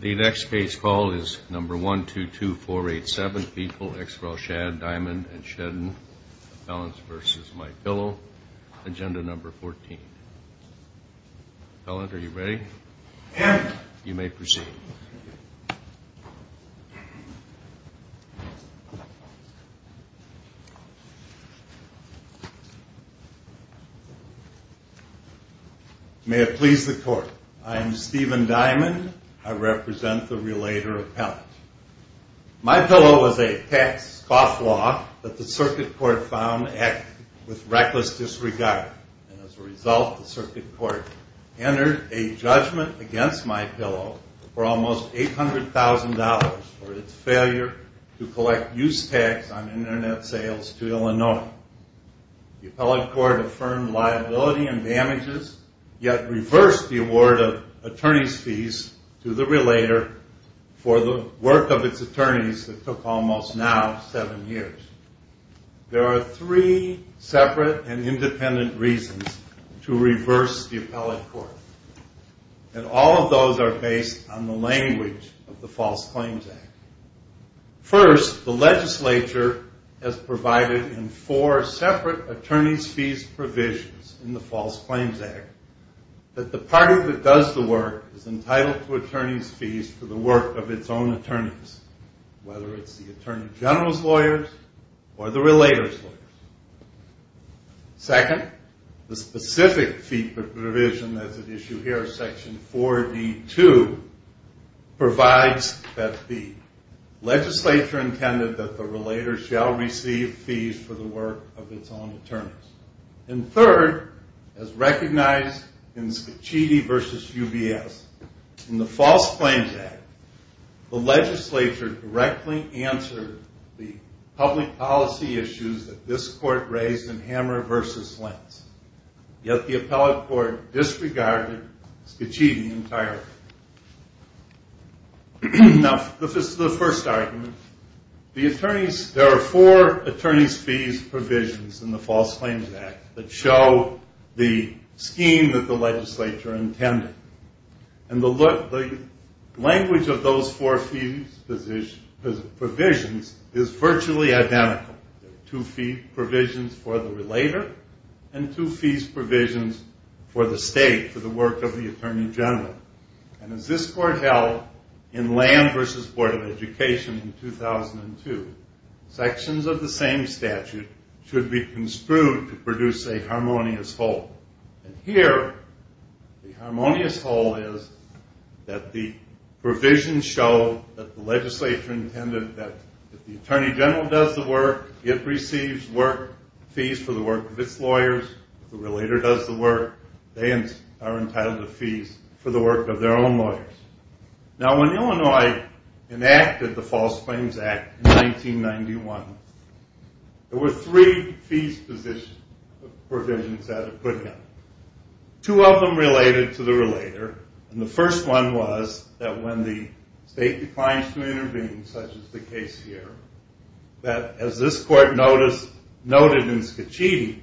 The next case call is No. 122487, people ex rel. Schad, Diamond & Shedden, P.C. v. My Pillow, Inc., Agenda No. 14. Fellant, are you ready? Yes. You may proceed. May it please the Court. I am Stephen Diamond. I represent the relator of Fellant. My Pillow is a tax-scoff law that the Circuit Court found with reckless disregard. And as a result, the Circuit Court entered a judgment against My Pillow for almost $800,000 for its failure to collect use tax on Internet sales to Illinois. The appellate court affirmed liability and damages, yet reversed the award of attorney's fees to the relator for the work of its attorneys that took almost now seven years. There are three separate and independent reasons to reverse the appellate court, and all of those are based on the language of the False Claims Act. First, the legislature has provided in four separate attorney's fees provisions in the False Claims Act that the party that does the work is entitled to attorney's fees for the work of its own attorneys, whether it's the Attorney General's lawyers or the relator's lawyers. Second, the specific fee provision that's at issue here, Section 4D2, provides that the legislature intended that the relator shall receive fees for the work of its own attorneys. And third, as recognized in Scicchiti v. UBS, in the False Claims Act, the legislature directly answered the public policy issues that this court raised in Hammer v. Lentz, yet the appellate court disregarded Scicchiti entirely. Now, this is the first argument. There are four attorney's fees provisions in the False Claims Act that show the scheme that the legislature intended, and the language of those four fees provisions is virtually identical. There are two fee provisions for the relator and two fees provisions for the state, for the work of the Attorney General. And as this court held in Lamb v. Board of Education in 2002, sections of the same statute should be construed to produce a harmonious whole. And here, the harmonious whole is that the provisions show that the legislature intended that if the Attorney General does the work, it receives fees for the work of its lawyers. If the relator does the work, they are entitled to fees for the work of their own lawyers. Now, when Illinois enacted the False Claims Act in 1991, there were three fees provisions that it put in. Two of them related to the relator, and the first one was that when the state declines to intervene, such as the case here, that as this court noted in Scicchiti,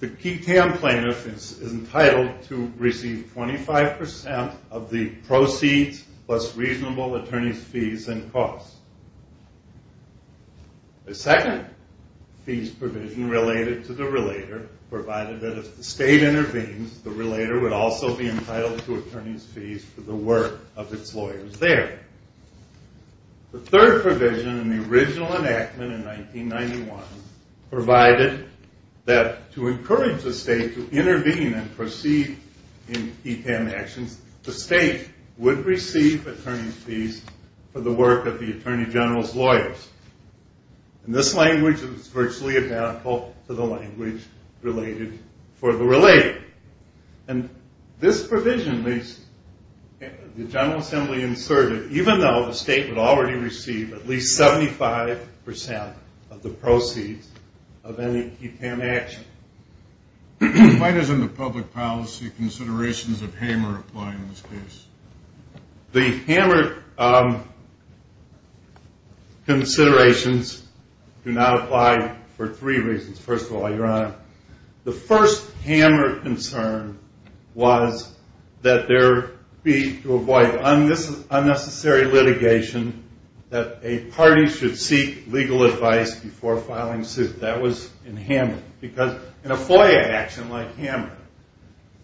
the key TAM plaintiff is entitled to receive 25% of the proceeds plus reasonable attorney's fees and costs. The second fees provision related to the relator provided that if the state intervenes, the relator would also be entitled to attorney's fees for the work of its lawyers there. The third provision in the original enactment in 1991 provided that to encourage the state to intervene and proceed in key TAM actions, the state would receive attorney's fees for the work of the Attorney General's lawyers. And this language is virtually identical to the language related for the relator. And this provision leaves the General Assembly inserted, even though the state would already receive at least 75% of the proceeds of any key TAM action. Why doesn't the public policy considerations of Hamer apply in this case? The Hamer considerations do not apply for three reasons. The first Hamer concern was that there be, to avoid unnecessary litigation, that a party should seek legal advice before filing suit. That was in Hamer, because in a FOIA action like Hamer,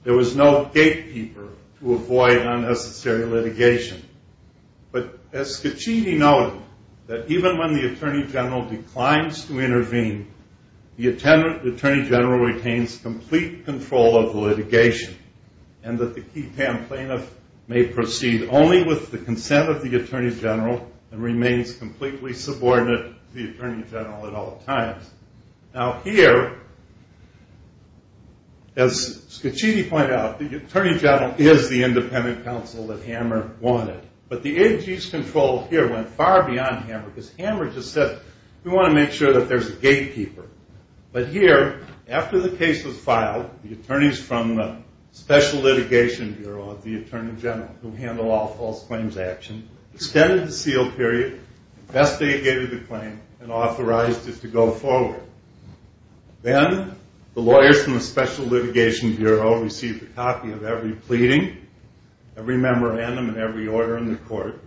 there was no gatekeeper to avoid unnecessary litigation. But as Scicchiti noted, that even when the Attorney General declines to intervene, the Attorney General retains complete control of the litigation. And that the key TAM plaintiff may proceed only with the consent of the Attorney General and remains completely subordinate to the Attorney General at all times. Now here, as Scicchiti pointed out, the Attorney General is the independent counsel that Hamer wanted. But the AG's control here went far beyond Hamer, because Hamer just said, we want to make sure that there's a gatekeeper. But here, after the case was filed, the attorneys from the Special Litigation Bureau of the Attorney General, who handle all false claims actions, extended the seal period, investigated the claim, and authorized it to go forward. Then, the lawyers from the Special Litigation Bureau received a copy of every pleading, every memorandum, and every order in the court.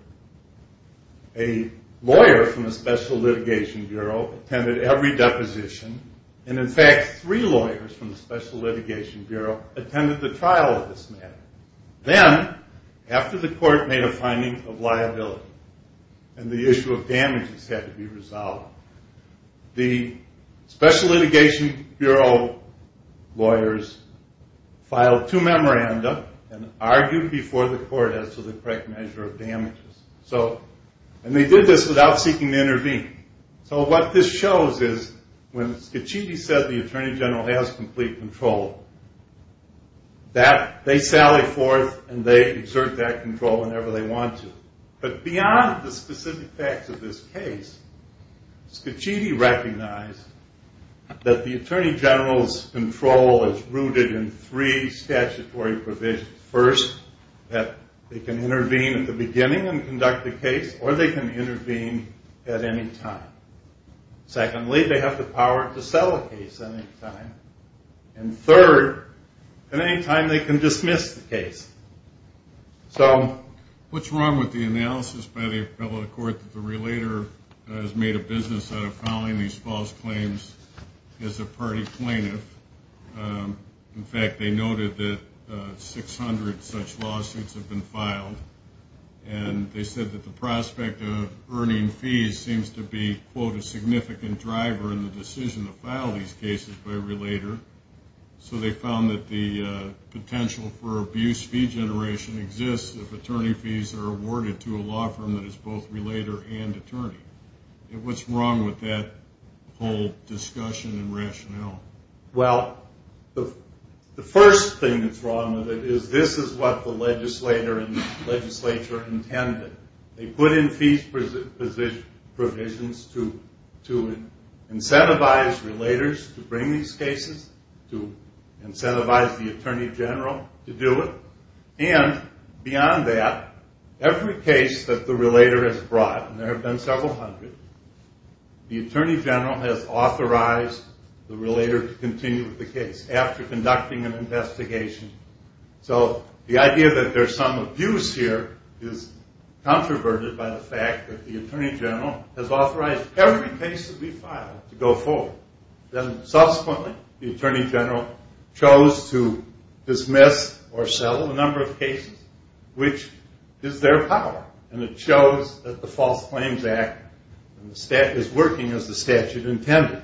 A lawyer from the Special Litigation Bureau attended every deposition, and in fact, three lawyers from the Special Litigation Bureau attended the trial of this matter. Then, after the court made a finding of liability, and the issue of damages had to be resolved, the Special Litigation Bureau lawyers filed two memorandums and argued before the court as to the correct measure of damages. So, and they did this without seeking to intervene. So, what this shows is, when Scicchiti said the Attorney General has complete control, they sally forth and they exert that control whenever they want to. But beyond the specific facts of this case, Scicchiti recognized that the Attorney General's control is rooted in three statutory provisions. First, that they can intervene at the beginning and conduct a case, or they can intervene at any time. Secondly, they have the power to settle a case at any time. And third, at any time they can dismiss the case. So, what's wrong with the analysis by the appellate court that the relator has made a business out of filing these false claims as a party plaintiff? In fact, they noted that 600 such lawsuits have been filed. And they said that the prospect of earning fees seems to be, quote, a significant driver in the decision to file these cases by a relator. So, they found that the potential for abuse fee generation exists if attorney fees are awarded to a law firm that is both relator and attorney. What's wrong with that whole discussion and rationale? Well, the first thing that's wrong with it is this is what the legislator and legislature intended. They put in fees provisions to incentivize relators to bring these cases, to incentivize the Attorney General to do it. And beyond that, every case that the relator has brought, and there have been several hundred, the Attorney General has authorized the relator to continue with the case after conducting an investigation. So, the idea that there's some abuse here is controverted by the fact that the Attorney General has authorized every case that we filed to go forward. Then, subsequently, the Attorney General chose to dismiss or settle a number of cases, which is their power. And it shows that the False Claims Act is working as the statute intended.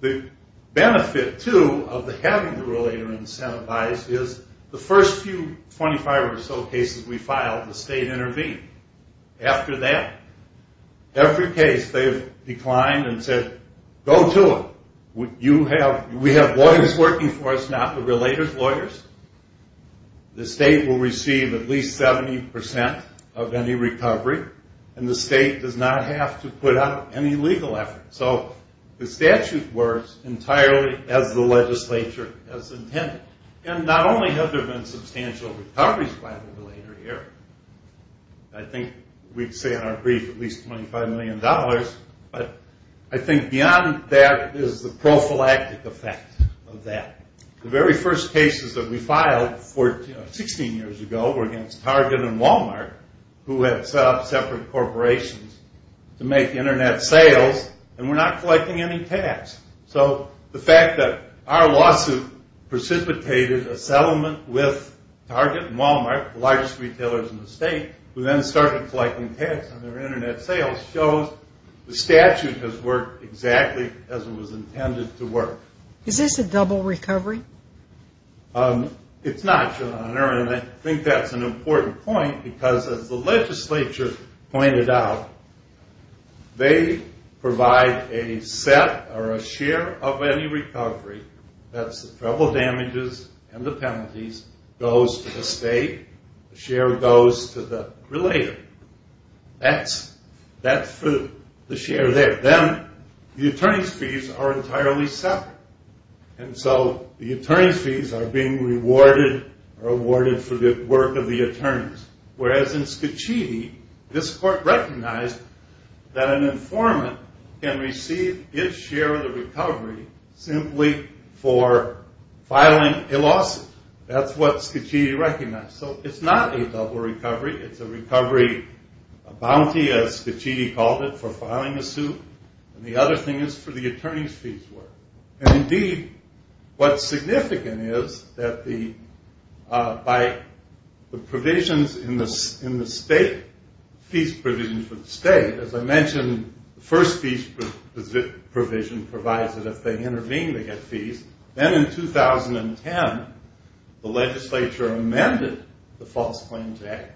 The benefit, too, of having the relator incentivized is the first few 25 or so cases we filed, the state intervened. After that, every case they've declined and said, go to it. We have lawyers working for us, not the relator's lawyers. The state will receive at least 70% of any recovery, and the state does not have to put out any legal effort. So, the statute works entirely as the legislature has intended. And not only have there been substantial recoveries by the relator here. I think we'd say in our brief at least $25 million, but I think beyond that is the prophylactic effect of that. The very first cases that we filed 16 years ago were against Target and Walmart, who had set up separate corporations to make internet sales. And we're not collecting any tax. So, the fact that our lawsuit precipitated a settlement with Target and Walmart, the largest retailers in the state, who then started collecting tax on their internet sales, shows the statute has worked exactly as it was intended to work. Is this a double recovery? It's not, Your Honor. And I think that's an important point, because as the legislature pointed out, they provide a set or a share of any recovery. That's the travel damages and the penalties goes to the state. The share goes to the relator. That's for the share there. And then the attorney's fees are entirely separate. And so the attorney's fees are being rewarded or awarded for the work of the attorneys. Whereas in Scachitti, this court recognized that an informant can receive its share of the recovery simply for filing a lawsuit. That's what Scachitti recognized. So it's not a double recovery. It's a recovery, a bounty, as Scachitti called it, for filing a suit. And the other thing is for the attorney's fees. And indeed, what's significant is that by the provisions in the state, fees provisions for the state, as I mentioned, the first fees provision provides that if they intervene, they get fees. Then in 2010, the legislature amended the False Claims Act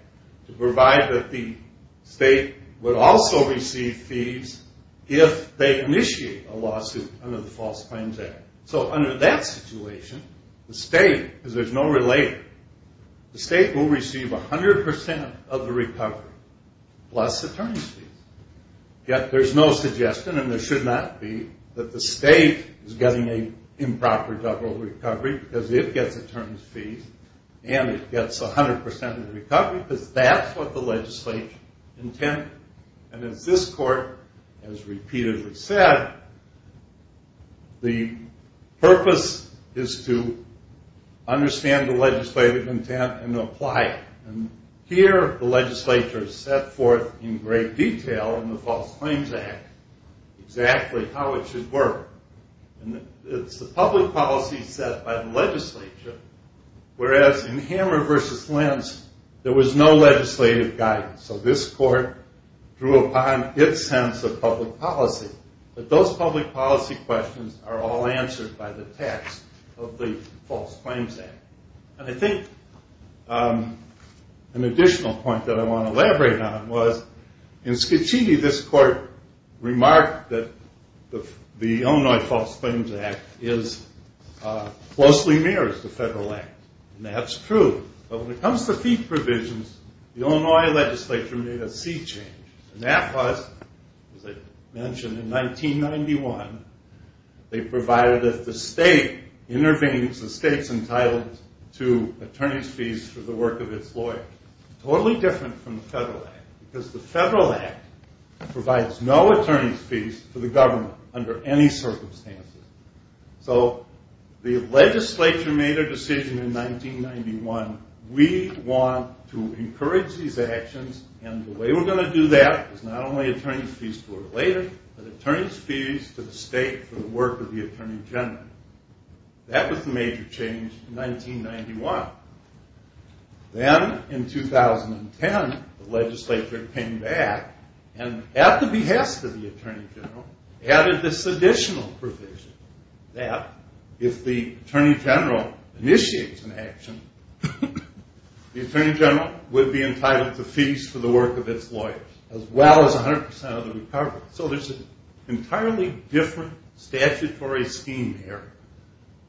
to provide that the state would also receive fees if they initiate a lawsuit under the False Claims Act. So under that situation, the state, because there's no relator, the state will receive 100% of the recovery plus attorney's fees. Yet there's no suggestion, and there should not be, that the state is getting an improper double recovery because it gets attorney's fees and it gets 100% of the recovery because that's what the legislature intended. And as this court has repeatedly said, the purpose is to understand the legislative intent and apply it. Here, the legislature set forth in great detail in the False Claims Act exactly how it should work. And it's the public policy set by the legislature. Whereas in Hammer v. Lentz, there was no legislative guidance. So this court drew upon its sense of public policy. But those public policy questions are all answered by the text of the False Claims Act. And I think an additional point that I want to elaborate on was, in Scicchiti, this court remarked that the Illinois False Claims Act closely mirrors the federal act. And that's true. But when it comes to fee provisions, the Illinois legislature made a sea change. And that was, as I mentioned, in 1991, they provided that the state intervenes, the state's entitled to attorney's fees for the work of its lawyers. Totally different from the federal act. Because the federal act provides no attorney's fees for the government under any circumstances. So the legislature made their decision in 1991. We want to encourage these actions. And the way we're going to do that is not only attorney's fees to our lawyer, but attorney's fees to the state for the work of the attorney general. That was the major change in 1991. Then, in 2010, the legislature came back and, at the behest of the attorney general, added this additional provision that, if the attorney general initiates an action, the attorney general would be entitled to fees for the work of its lawyers, as well as 100% of the recovery. So there's an entirely different statutory scheme here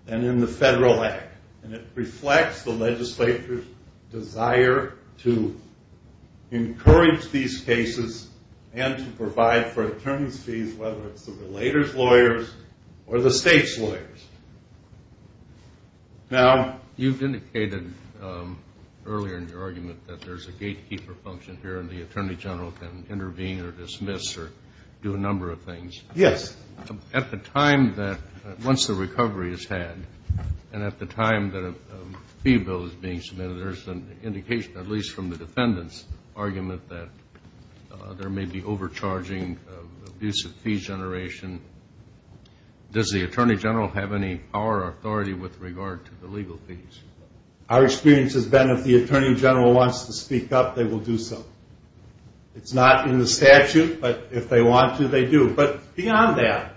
than in the federal act. And it reflects the legislature's desire to encourage these cases and to provide for attorney's fees, whether it's the relator's lawyers or the state's lawyers. Now, you've indicated earlier in your argument that there's a gatekeeper function here and the attorney general can intervene or dismiss or do a number of things. Yes. At the time that, once the recovery is had, and at the time that a fee bill is being submitted, there's an indication, at least from the defendant's argument, that there may be overcharging, abusive fee generation. Does the attorney general have any power or authority with regard to the legal fees? Our experience has been, if the attorney general wants to speak up, they will do so. It's not in the statute, but if they want to, they do. But beyond that,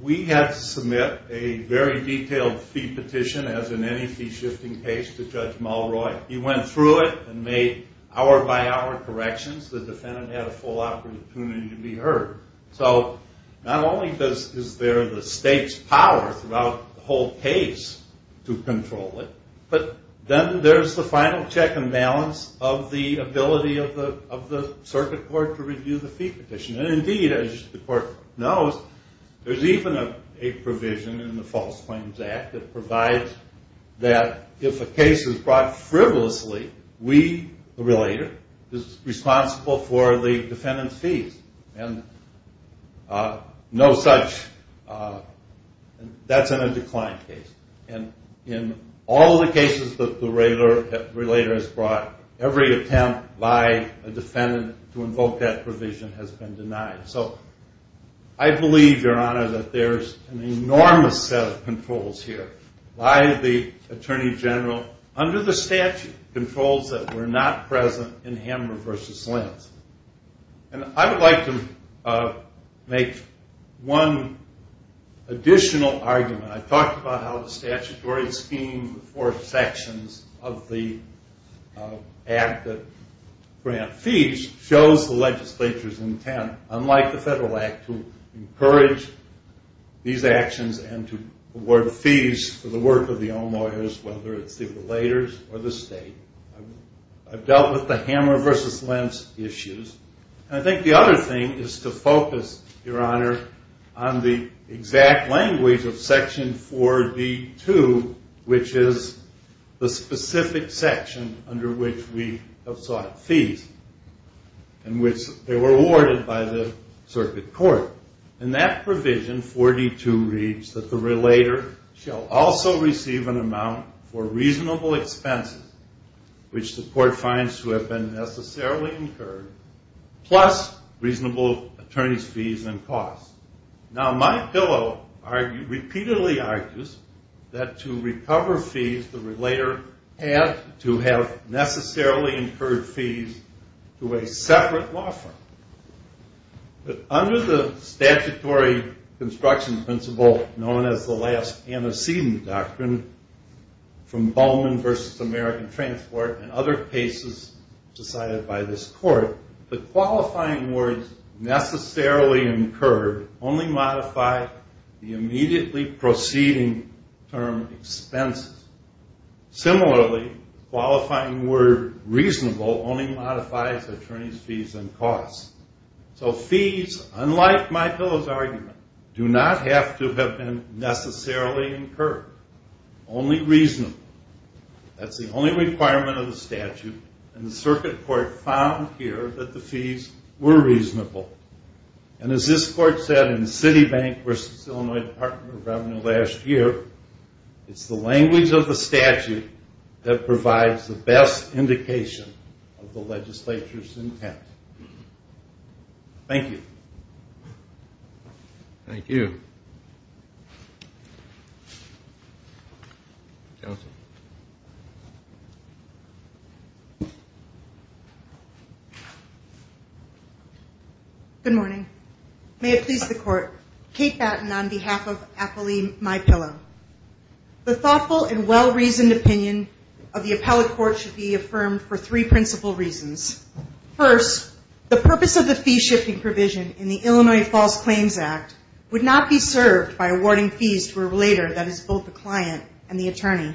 we had to submit a very detailed fee petition, as in any fee-shifting case, to Judge Mulroy. He went through it and made hour-by-hour corrections. The defendant had a full opportunity to be heard. So not only is there the state's power throughout the whole case to control it, but then there's the final check and balance of the ability of the circuit court to review the fee petition. And, indeed, as the court knows, there's even a provision in the False Claims Act that provides that if a case is brought frivolously, we, the relator, is responsible for the defendant's fees. And no such – that's in a declined case. And in all the cases that the relator has brought, every attempt by a defendant to invoke that provision has been denied. So I believe, Your Honor, that there's an enormous set of controls here by the attorney general, under the statute, controls that were not present in Hammer v. Linz. And I would like to make one additional argument. I talked about how the statutory scheme, the four sections of the act that grant fees, shows the legislature's intent, unlike the Federal Act, to encourage these actions and to award fees for the work of the own lawyers, whether it's the relators or the state. I've dealt with the Hammer v. Linz issues. And I think the other thing is to focus, Your Honor, on the exact language of Section 4D-2, which is the specific section under which we have sought fees and which they were awarded by the circuit court. In that provision, 4D-2 reads that the relator shall also receive an amount for reasonable expenses, which the court finds to have been necessarily incurred, plus reasonable attorney's fees and costs. Now, my pillow repeatedly argues that to recover fees, the relator had to have necessarily incurred fees to a separate law firm. But under the statutory construction principle known as the last antecedent doctrine, from Bowman v. American Transport and other cases decided by this court, the qualifying words necessarily incurred only modify the immediately proceeding term expenses. Similarly, the qualifying word reasonable only modifies attorney's fees and costs. So fees, unlike my pillow's argument, do not have to have been necessarily incurred, only reasonable. That's the only requirement of the statute, and the circuit court found here that the fees were reasonable. And as this court said in Citibank v. Illinois Department of Revenue last year, it's the language of the statute that provides the best indication of the legislature's intent. Thank you. Thank you. Good morning. May it please the court. Kate Batten on behalf of Appellee My Pillow. The thoughtful and well-reasoned opinion of the appellate court should be affirmed for three principal reasons. First, the purpose of the fee-shifting provision in the Illinois False Claims Act would not be served by awarding fees to a relator that is both the client and the attorney.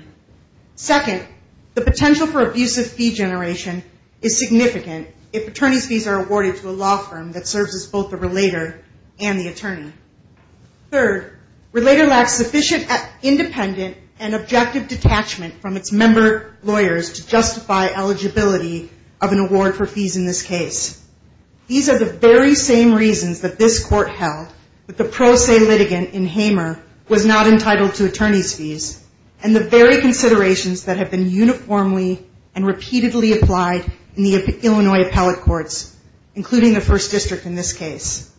Second, the potential for abusive fee generation is significant if attorney's fees are awarded to a law firm that serves as both the relator and the attorney. Third, relator lacks sufficient independent and objective detachment from its member lawyers to justify eligibility of an award for fees in this case. These are the very same reasons that this court held that the pro se litigant in Hamer was not entitled to attorney's fees, and the very considerations that have been uniformly and repeatedly applied in the Illinois appellate courts, including the first district in this case.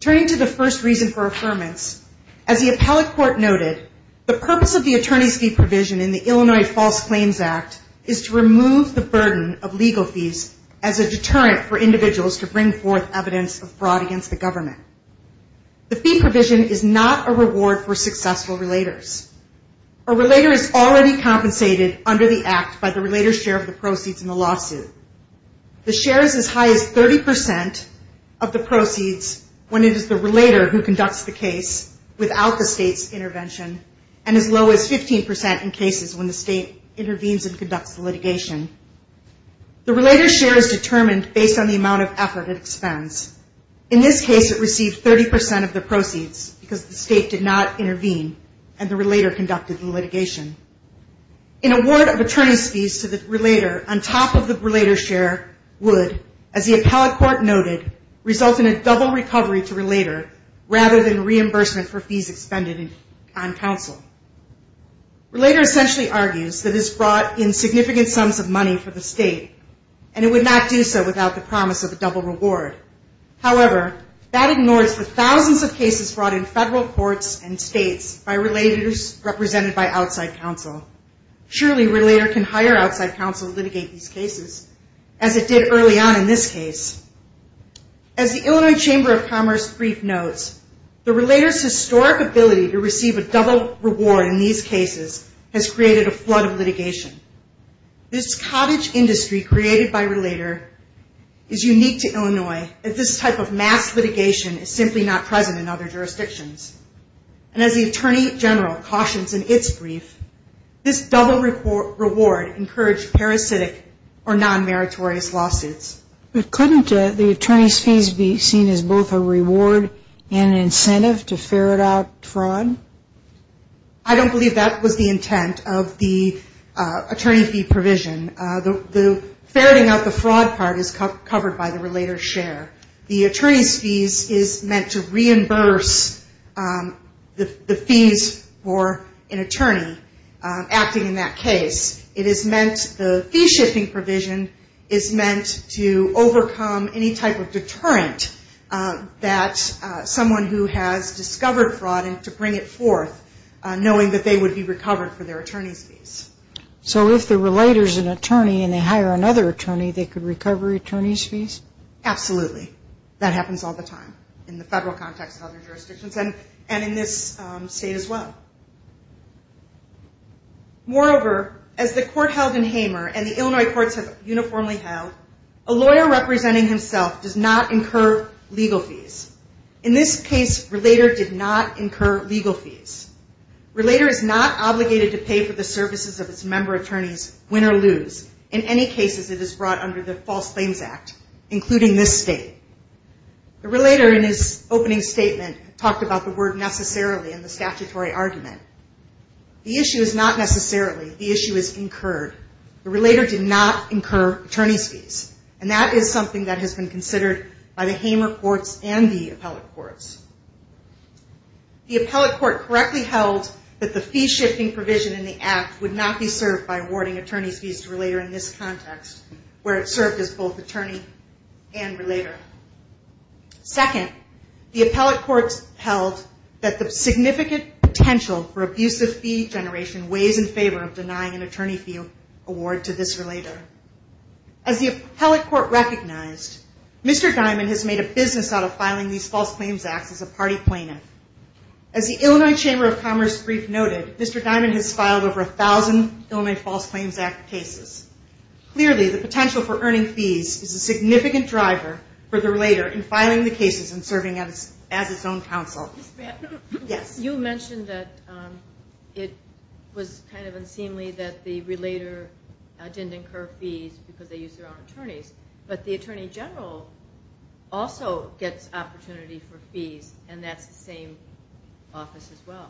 Turning to the first reason for affirmance, as the appellate court noted, the purpose of the attorney's fee provision in the Illinois False Claims Act is to remove the burden of legal fees as a deterrent for individuals to bring forth evidence of fraud against the government. The fee provision is not a reward for successful relators. A relator is already compensated under the act by the relator's share of the proceeds in the lawsuit. The share is as high as 30% of the proceeds when it is the relator who conducts the case without the state's intervention, and as low as 15% in cases when the state intervenes and conducts the litigation. The relator's share is determined based on the amount of effort it expends. In this case, it received 30% of the proceeds because the state did not intervene, and the relator conducted the litigation. An award of attorney's fees to the relator on top of the relator's share would, as the appellate court noted, result in a double recovery to relator rather than reimbursement for fees expended on counsel. Relator essentially argues that this brought in significant sums of money for the state, and it would not do so without the promise of a double reward. However, that ignores the thousands of cases brought in federal courts and states by relators represented by outside counsel. Surely, a relator can hire outside counsel to litigate these cases, as it did early on in this case. As the Illinois Chamber of Commerce brief notes, the relator's historic ability to receive a double reward in these cases has created a flood of litigation. This cottage industry created by relator is unique to Illinois, as this type of mass litigation is simply not present in other jurisdictions. And as the attorney general cautions in its brief, this double reward encouraged parasitic or non-meritorious lawsuits. But couldn't the attorney's fees be seen as both a reward and an incentive to ferret out fraud? I don't believe that was the intent of the attorney fee provision. The ferreting out the fraud part is covered by the relator's share. The attorney's fees is meant to reimburse the fees for an attorney acting in that case. It is meant the fee-shipping provision is meant to overcome any type of deterrent that someone who has discovered fraud and to bring it forth, knowing that they would be recovered for their attorney's fees. So if the relator's an attorney and they hire another attorney, they could recover attorney's fees? Absolutely. That happens all the time in the federal context of other jurisdictions and in this state as well. Moreover, as the court held in Hamer and the Illinois courts have uniformly held, a lawyer representing himself does not incur legal fees. In this case, relator did not incur legal fees. Relator is not obligated to pay for the services of its member attorney's win or lose in any cases it is brought under the False Claims Act, including this state. The relator in his opening statement talked about the word necessarily in the statutory argument. The issue is not necessarily. The issue is incurred. The relator did not incur attorney's fees, and that is something that has been considered by the Hamer courts and the appellate courts. The appellate court correctly held that the fee-shipping provision in the Act would not be served by awarding attorney's fees to a relator in this context, where it served as both attorney and relator. Second, the appellate courts held that the significant potential for abusive fee generation was in favor of denying an attorney fee award to this relator. As the appellate court recognized, Mr. Dimon has made a business out of filing these False Claims Acts as a party plaintiff. As the Illinois Chamber of Commerce brief noted, Mr. Dimon has filed over 1,000 Illinois False Claims Act cases. Clearly, the potential for earning fees is a significant driver for the relator in filing the cases and serving as its own counsel. You mentioned that it was kind of unseemly that the relator didn't incur fees because they used their own attorneys, but the Attorney General also gets opportunity for fees, and that's the same office as well.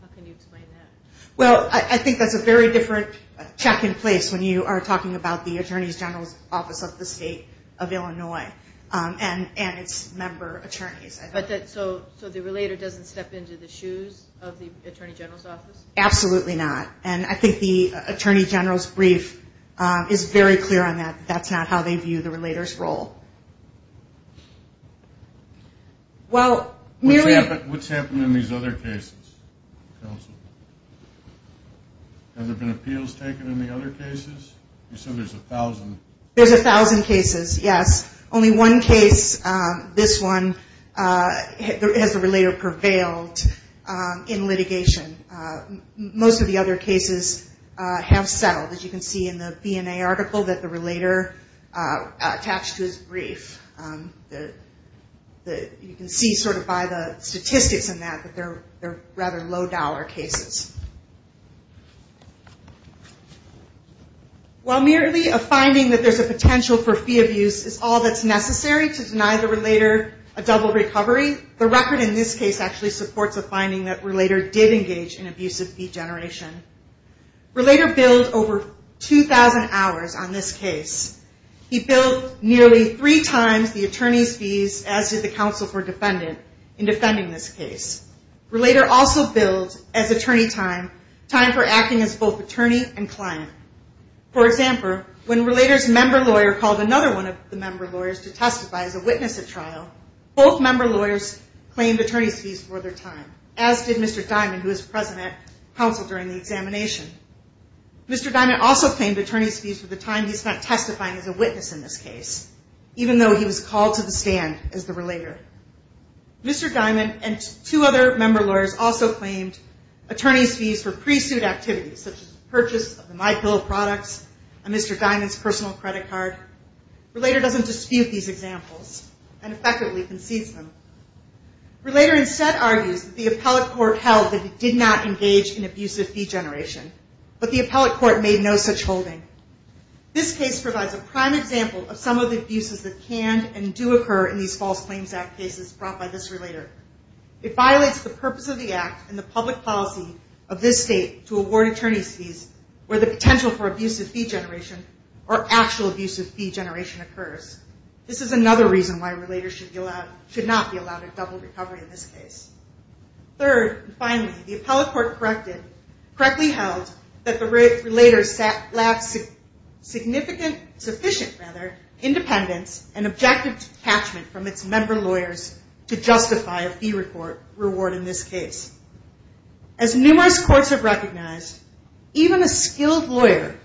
How can you explain that? Well, I think that's a very different check in place when you are talking about the Attorney General's Office of the State of Illinois and its member attorneys. So the relator doesn't step into the shoes of the Attorney General's Office? Absolutely not. And I think the Attorney General's brief is very clear on that. That's not how they view the relator's role. What's happened in these other cases, counsel? Have there been appeals taken in the other cases? You said there's 1,000. There's 1,000 cases, yes. Only one case, this one, has the relator prevailed in litigation. Most of the other cases have settled, as you can see in the BNA article, that the relator attached to his brief. You can see sort of by the statistics in that that they're rather low-dollar cases. While merely a finding that there's a potential for fee abuse is all that's necessary to deny the relator a double recovery, the record in this case actually supports a finding that relator did engage in abusive fee generation. Relator billed over 2,000 hours on this case. He billed nearly three times the attorney's fees, as did the counsel for defendant, in defending this case. Relator also billed, as attorney time, time for acting as both attorney and client. For example, when relator's member lawyer called another one of the member lawyers to testify as a witness at trial, both member lawyers claimed attorney's fees for their time, as did Mr. Diamond, who was present at counsel during the examination. Mr. Diamond also claimed attorney's fees for the time he spent testifying as a witness in this case, even though he was called to the stand as the relator. Mr. Diamond and two other member lawyers also claimed attorney's fees for pre-suit activities, such as the purchase of the MyPillow products and Mr. Diamond's personal credit card. Relator doesn't dispute these examples and effectively concedes them. Relator instead argues that the appellate court held that he did not engage in abusive fee generation, but the appellate court made no such holding. This case provides a prime example of some of the abuses that can and do occur in these False Claims Act cases brought by this relator. It violates the purpose of the act and the public policy of this state to award attorney's fees where the potential for abusive fee generation or actual abusive fee generation occurs. This is another reason why relators should not be allowed a double recovery in this case. Third, and finally, the appellate court correctly held that the relator lacked sufficient independence and objective detachment from its member lawyers to justify a fee reward in this case. As numerous courts have recognized, even a skilled lawyer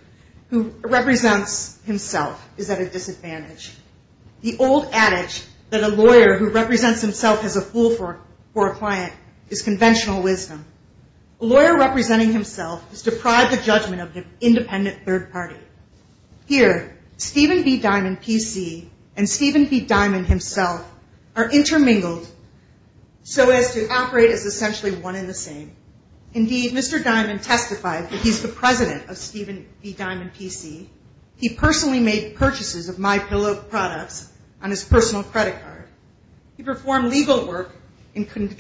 who represents himself is at a disadvantage. The old adage that a lawyer who represents himself as a fool for a client is conventional wisdom. A lawyer representing himself is deprived of the judgment of an independent third party. Here, Stephen B. Diamond, PC, and Stephen B. Diamond himself are intermingled so as to operate as essentially one in the same. Indeed, Mr. Diamond testified that he's the president of Stephen B. Diamond, PC. He personally made purchases of MyPillow products on his personal credit card. He performed legal work, including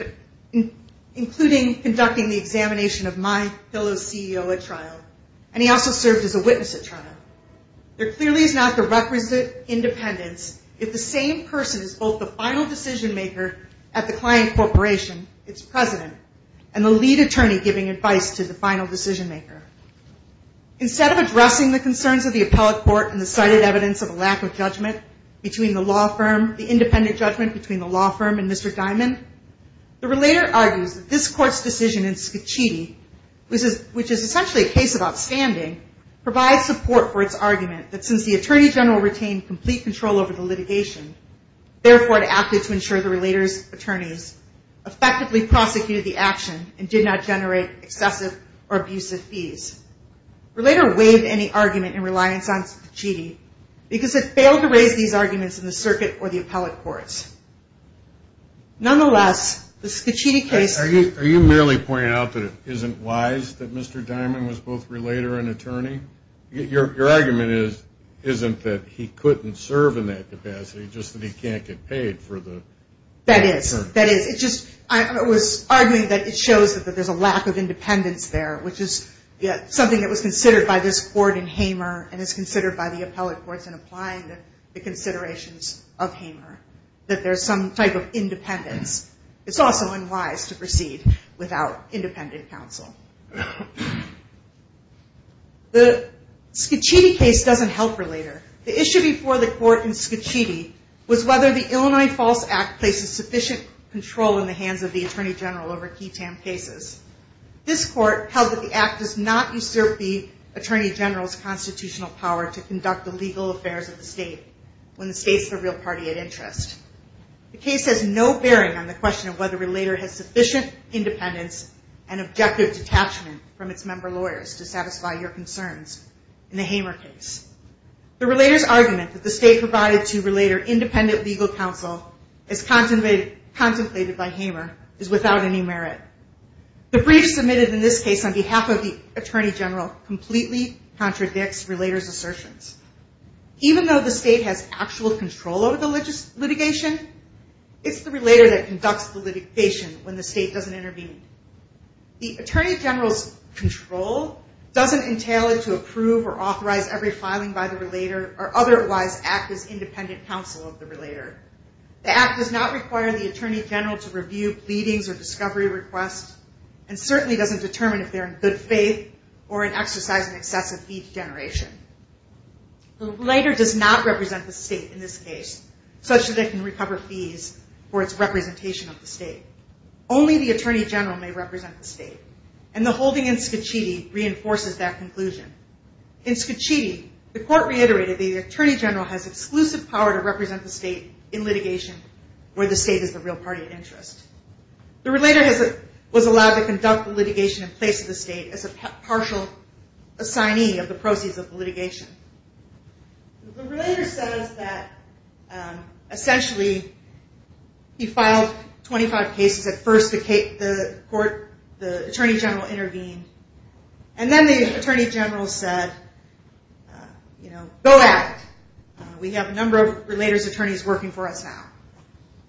conducting the examination of MyPillow's CEO at trial, and he also served as a witness at trial. There clearly is not the requisite independence if the same person is both the final decision maker at the client corporation, its president, and the lead attorney giving advice to the final decision maker. Instead of addressing the concerns of the appellate court and the cited evidence of a lack of judgment between the law firm, the independent judgment between the law firm and Mr. Diamond, the relator argues that this court's decision in Scicchiti, which is essentially a case of outstanding, provides support for its argument that since the attorney general retained complete control over the litigation, therefore it acted to ensure the relator's attorneys effectively prosecuted the action and did not generate excessive or abusive fees. Relator waived any argument in reliance on Scicchiti because it failed to raise these arguments in the circuit or the appellate courts. Nonetheless, the Scicchiti case- Are you merely pointing out that it isn't wise that Mr. Diamond was both relator and attorney? Your argument isn't that he couldn't serve in that capacity, just that he can't get paid for the- That is. That is. I was arguing that it shows that there's a lack of independence there, which is something that was considered by this court in Hamer and is considered by the appellate courts in applying the considerations of Hamer, that there's some type of independence. It's also unwise to proceed without independent counsel. The Scicchiti case doesn't help relator. The issue before the court in Scicchiti was whether the Illinois False Act places sufficient control in the hands of the attorney general over key TAM cases. This court held that the act does not usurp the attorney general's constitutional power to conduct the legal affairs of the state when the state's the real party at interest. The case has no bearing on the question of whether relator has sufficient independence and objective detachment from its member lawyers to satisfy your concerns in the Hamer case. The relator's argument that the state provided to relator independent legal counsel as contemplated by Hamer is without any merit. The brief submitted in this case on behalf of the attorney general completely contradicts relator's assertions. Even though the state has actual control over the litigation, it's the relator that conducts the litigation when the state doesn't intervene. The attorney general's control doesn't entail it to approve or authorize every filing by the relator or otherwise act as independent counsel of the relator. The act does not require the attorney general to review pleadings or discovery requests and certainly doesn't determine if they're in good faith or an exercise in excessive fee generation. The relator does not represent the state in this case such that they can recover fees for its representation of the state. Only the attorney general may represent the state and the holding in Scachitti reinforces that conclusion. In Scachitti, the court reiterated the attorney general has exclusive power to represent the state in litigation where the state is the real party of interest. The relator was allowed to conduct the litigation in place of the state as a partial assignee of the proceeds of the litigation. The relator says that essentially he filed 25 cases. At first, the court, the attorney general intervened and then the attorney general said, you know, go at it. We have a number of relator's attorneys working for us now.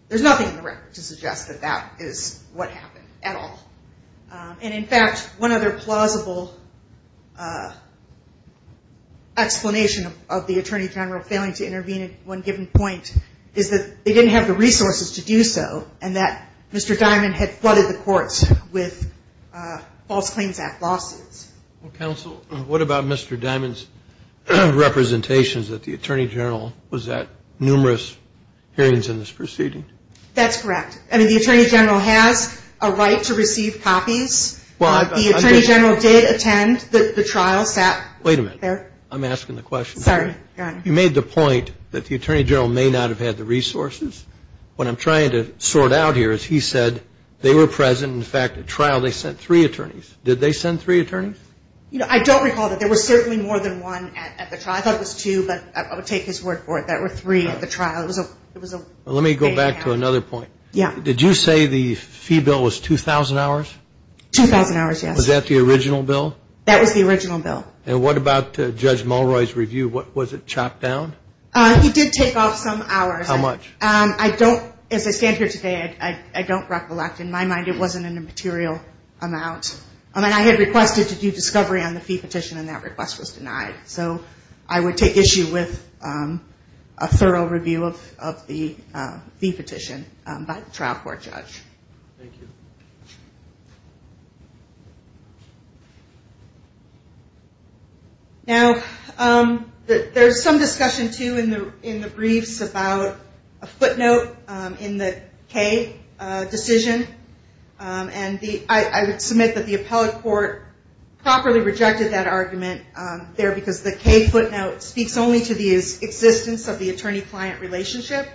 There's nothing in the record to suggest that that is what happened at all. And in fact, one other plausible explanation of the attorney general failing to intervene at one given point is that they didn't have the resources to do so and that Mr. Diamond had flooded the courts with false claims act lawsuits. Well, counsel, what about Mr. Diamond's representations that the attorney general was at numerous hearings in this proceeding? That's correct. I mean, the attorney general has a right to receive copies. The attorney general did attend. The trial sat there. Wait a minute. I'm asking the question. Sorry. Go ahead. You made the point that the attorney general may not have had the resources. What I'm trying to sort out here is he said they were present. In fact, at trial, they sent three attorneys. Did they send three attorneys? I don't recall that. There were certainly more than one at the trial. I thought it was two, but I would take his word for it. There were three at the trial. Let me go back to another point. Did you say the fee bill was 2,000 hours? 2,000 hours, yes. Was that the original bill? That was the original bill. And what about Judge Mulroy's review? Was it chopped down? He did take off some hours. How much? As I stand here today, I don't recollect. In my mind, it wasn't a material amount. I had requested to do discovery on the fee petition, and that request was denied. So I would take issue with a thorough review of the fee petition by the trial court judge. Thank you. Now, there's some discussion, too, in the briefs about a footnote in the K decision. And I would submit that the appellate court properly rejected that argument there because the K footnote speaks only to the existence of the attorney-client relationship.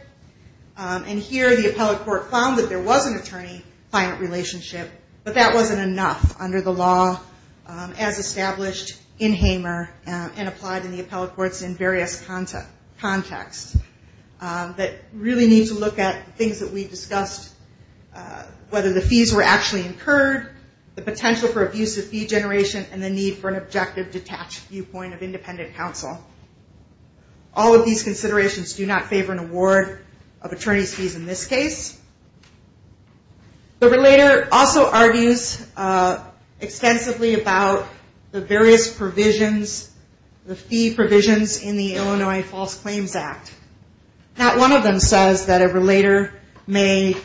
And here, the appellate court found that there was an attorney-client relationship, but that wasn't enough under the law as established in Hamer and applied in the appellate courts in various contexts. We really need to look at things that we discussed, whether the fees were actually incurred, the potential for abusive fee generation, and the need for an objective, detached viewpoint of independent counsel. All of these considerations do not favor an award of attorney's fees in this case. The relator also argues extensively about the various provisions, the fee provisions in the Illinois False Claims Act. Not one of them says that a relator may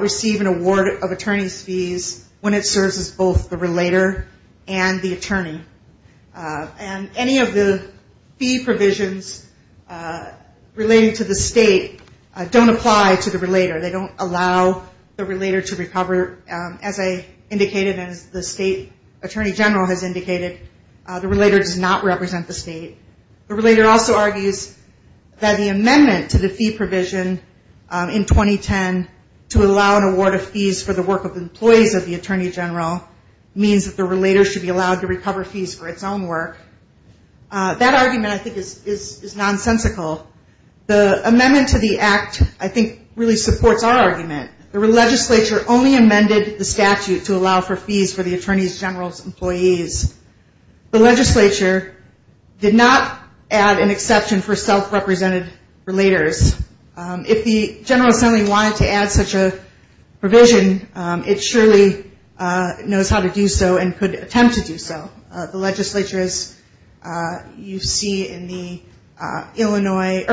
receive an award of attorney's fees when it serves as both the relator and the attorney. And any of the fee provisions relating to the state don't apply to the relator. They don't allow the relator to recover. As I indicated and as the state attorney general has indicated, the relator does not represent the state. The relator also argues that the amendment to the fee provision in 2010 to allow an award of fees for the work of employees of the attorney general means that the relator should be allowed to recover fees for its own work. That argument, I think, is nonsensical. The amendment to the act, I think, really supports our argument. The legislature only amended the statute to allow for fees for the attorney general's employees. The legislature did not add an exception for self-represented relators. If the General Assembly wanted to add such a provision, it surely knows how to do so and could attempt to do so. The legislature, as you see in the Illinois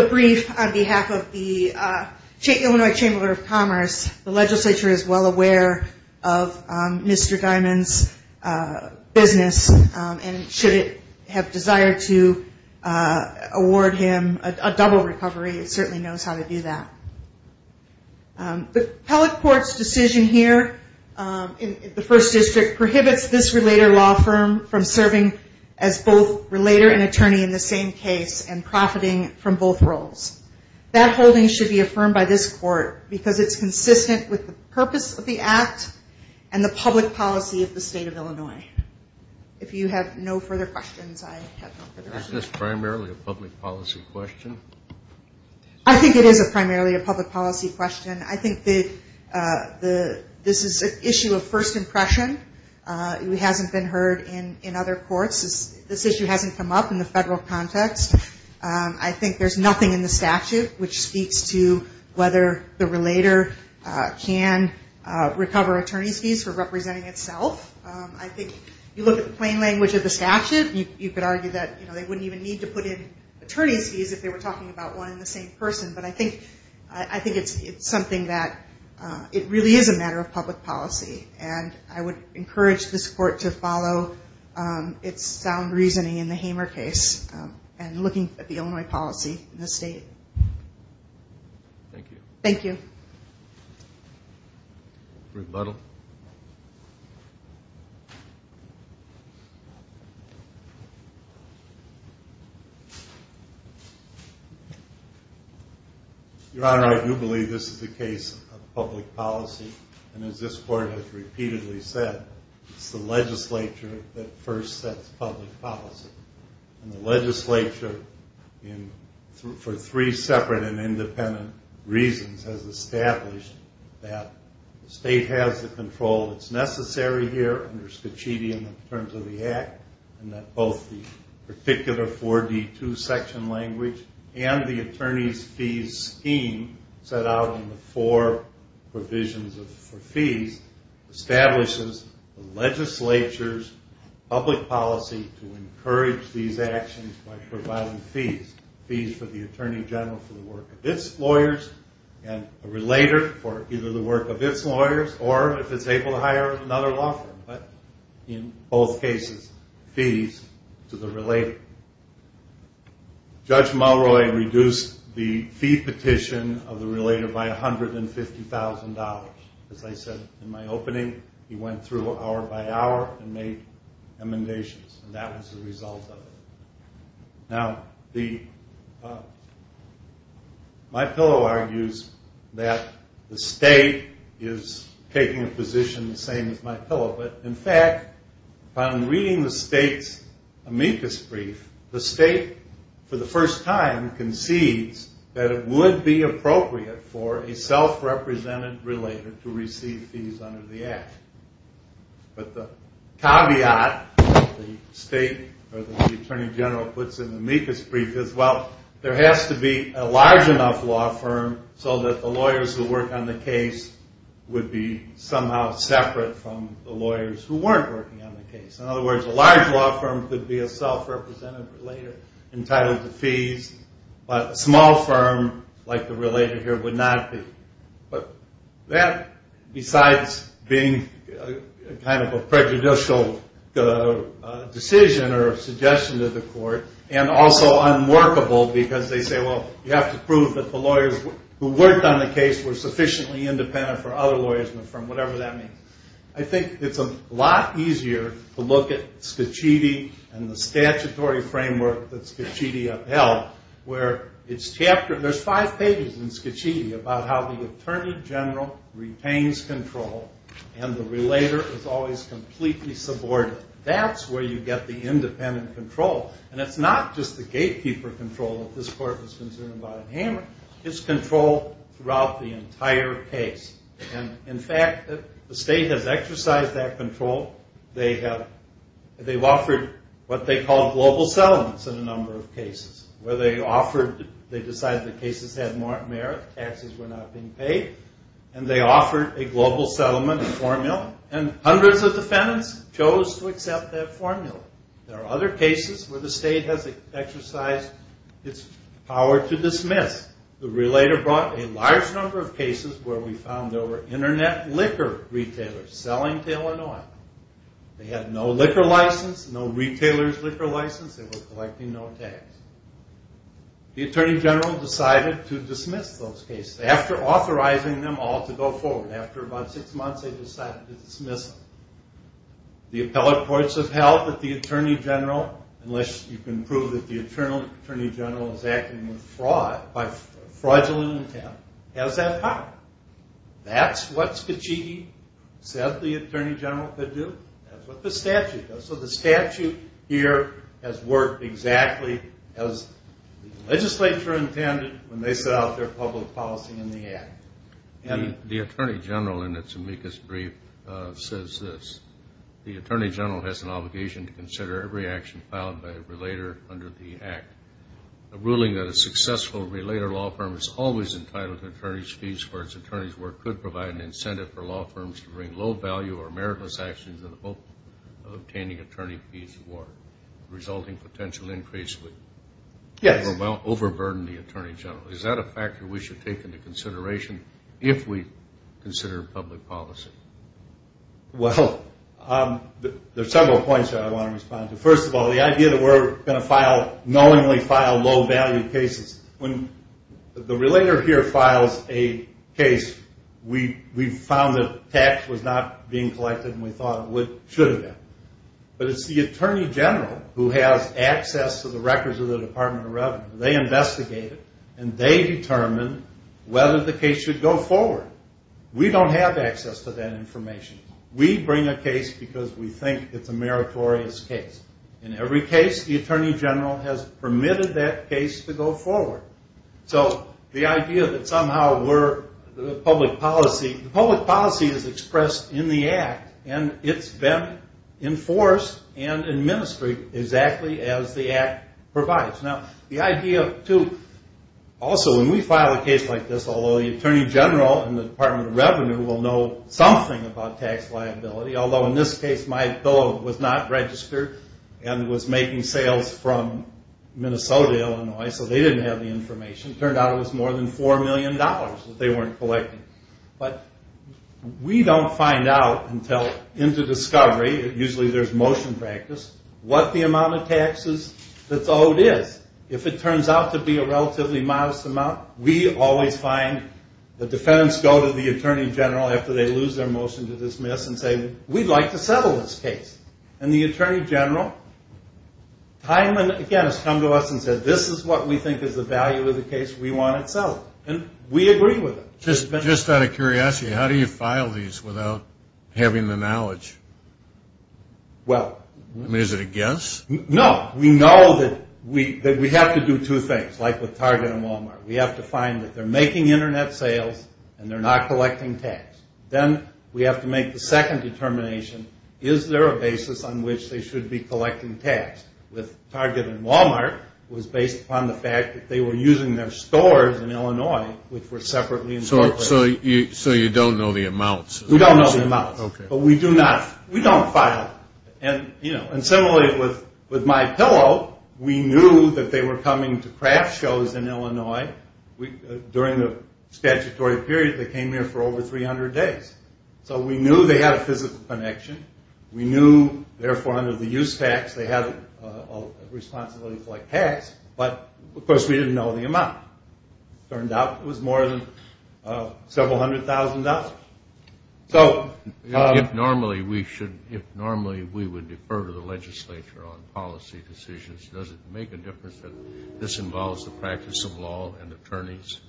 brief on behalf of the Illinois Chamber of Commerce, the legislature is well aware of Mr. Diamond's business and should it have desired to award him a double recovery, it certainly knows how to do that. The appellate court's decision here in the First District prohibits this relator law firm from serving as both relator and attorney in the same case and profiting from both roles. That holding should be affirmed by this court because it's consistent with the purpose of the act and the public policy of the state of Illinois. If you have no further questions, I have no further questions. Is this primarily a public policy question? I think it is primarily a public policy question. I think that this is an issue of first impression. It hasn't been heard in other courts. This issue hasn't come up in the federal context. I think there's nothing in the statute which speaks to whether the relator can recover attorney's fees for representing itself. I think you look at the plain language of the statute, you could argue that they wouldn't even need to put in attorney's fees if they were talking about one and the same person, but I think it's something that it really is a matter of public policy. I would encourage this court to follow its sound reasoning in the Hamer case and looking at the Illinois policy in the state. Thank you. Rebuttal. Your Honor, I do believe this is a case of public policy and as this court has repeatedly said, it's the legislature that first sets public policy. The legislature, for three separate and independent reasons, has established that the state has the control that's necessary here under Scicchiti in terms of the Act and that both the particular 4D2 section language and the attorney's fees scheme set out in the four provisions for fees establishes the legislature's public policy to encourage these actions by providing fees. Fees for the attorney general for the work of its lawyers and a relator for either the work of its lawyers or if it's able to hire another law firm, but in both cases, fees to the relator. Judge Mulroy reduced the fee petition of the relator by $150,000. As I said in my opening, he went through hour by hour and made amendations and that was the result of it. Now, my pillow argues that the state is taking a position the same as my pillow, but in fact, upon reading the state's amicus brief, the state for the first time concedes that it would be appropriate for a self-represented relator to receive fees under the Act. But the caveat the state or the attorney general puts in the amicus brief is, well, there has to be a large enough law firm so that the lawyers who work on the case would be somehow separate from the lawyers who weren't working on the case. In other words, a large law firm could be a self-represented relator entitled to fees, but a small firm like the relator here would not be. But that, besides being kind of a prejudicial decision or suggestion to the court and also unworkable because they say, well, you have to prove that the lawyers who worked on the case were sufficiently independent for other lawyers in the firm, whatever that means. I think it's a lot easier to look at Scicchiti and the statutory framework that Scicchiti upheld, where there's five pages in Scicchiti about how the attorney general retains control and the relator is always completely subordinate. That's where you get the independent control, and it's not just the gatekeeper control that this court was concerned about in Hammer. It's control throughout the entire case. And, in fact, the state has exercised that control. They've offered what they call global settlements in a number of cases, where they decided the cases had merit, taxes were not being paid, and they offered a global settlement formula, and hundreds of defendants chose to accept that formula. There are other cases where the state has exercised its power to dismiss. The relator brought a large number of cases where we found there were internet liquor retailers selling to Illinois. They had no liquor license, no retailer's liquor license. They were collecting no tax. The attorney general decided to dismiss those cases. After authorizing them all to go forward, after about six months, they decided to dismiss them. The appellate courts have held that the attorney general, unless you can prove that the attorney general is acting by fraudulent intent, has that power. That's what Scicchiti said the attorney general could do. That's what the statute does. So the statute here has worked exactly as the legislature intended when they set out their public policy in the act. The attorney general, in its amicus brief, says this. The attorney general has an obligation to consider every action filed by a relator under the act. A ruling that a successful relator law firm is always entitled to attorney's fees for its attorney's work could provide an incentive for law firms to bring low-value or meritless actions in the hope of obtaining attorney fees for resulting potential increase would overburden the attorney general. Is that a factor we should take into consideration if we consider public policy? Well, there are several points that I want to respond to. First of all, the idea that we're going to knowingly file low-value cases. When the relator here files a case, we found that tax was not being collected and we thought it should have been. But it's the attorney general who has access to the records of the Department of Revenue. They investigate it and they determine whether the case should go forward. We don't have access to that information. We bring a case because we think it's a meritorious case. In every case, the attorney general has permitted that case to go forward. So the idea that somehow we're the public policy, the public policy is expressed in the act and it's been enforced and administered exactly as the act provides. Also, when we file a case like this, although the attorney general and the Department of Revenue will know something about tax liability, although in this case my bill was not registered and was making sales from Minnesota, Illinois, so they didn't have the information, it turned out it was more than $4 million that they weren't collecting. But we don't find out until into discovery, usually there's motion practice, what the amount of taxes that's owed is. If it turns out to be a relatively modest amount, we always find the defendants go to the attorney general after they lose their motion to dismiss and say, we'd like to settle this case. And the attorney general time and again has come to us and said, this is what we think is the value of the case, we want it settled. And we agree with it. Just out of curiosity, how do you file these without having the knowledge? Is it a guess? No, we know that we have to do two things, like with Target and Walmart. We have to find that they're making Internet sales and they're not collecting tax. Then we have to make the second determination, is there a basis on which they should be collecting tax? With Target and Walmart, it was based upon the fact that they were using their stores in Illinois, which were separately incorporated. So you don't know the amounts? We don't know the amounts, but we don't file. And similarly, with MyPillow, we knew that they were coming to craft shows in Illinois. During the statutory period, they came here for over 300 days. So we knew they had a physical connection. We knew, therefore, under the use tax, they had a responsibility to collect tax. But, of course, we didn't know the amount. It turned out it was more than several hundred thousand dollars. If normally we would defer to the legislature on policy decisions, does it make a difference that this involves the practice of law and attorneys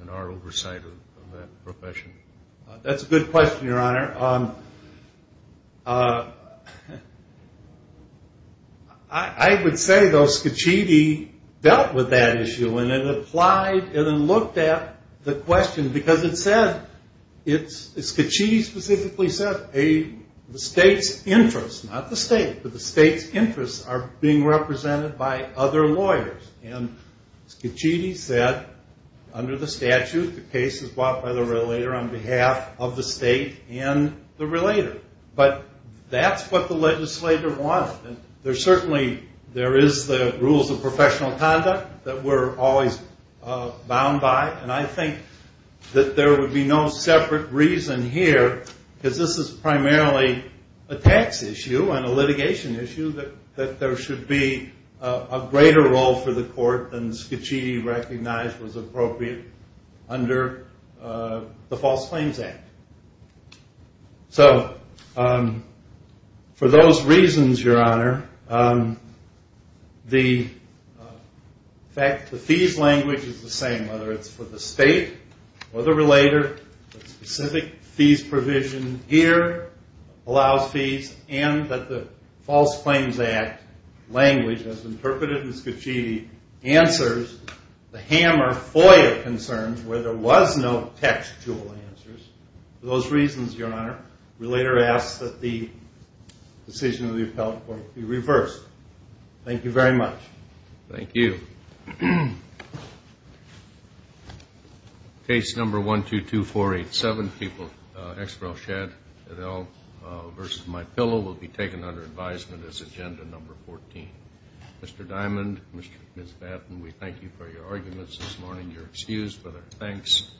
and our oversight of that profession? That's a good question, Your Honor. I would say, though, Scicchiti dealt with that issue and it applied and looked at the question because it said, Scicchiti specifically said the state's interests, not the state, but the state's interests are being represented by other lawyers. And Scicchiti said, under the statute, the case is brought by the relator on behalf of the state and the relator. But that's what the legislature wanted. Certainly there is the rules of professional conduct that we're always bound by, and I think that there would be no separate reason here, because this is primarily a tax issue and a litigation issue, that there should be a greater role for the court than Scicchiti recognized was appropriate under the False Claims Act. So for those reasons, Your Honor, the fact that the fees language is the same, whether it's for the state or the relator, the specific fees provision here allows fees, and that the False Claims Act language as interpreted in Scicchiti answers the hammer FOIA concerns where there was no textual answers. For those reasons, Your Honor, relator asks that the decision of the appellate court be reversed. Thank you very much. Thank you. Case number 122487, people, X. Rochette et al. versus MyPillow will be taken under advisement as agenda number 14. Mr. Diamond, Ms. Batten, we thank you for your arguments this morning. You're excused for their thanks.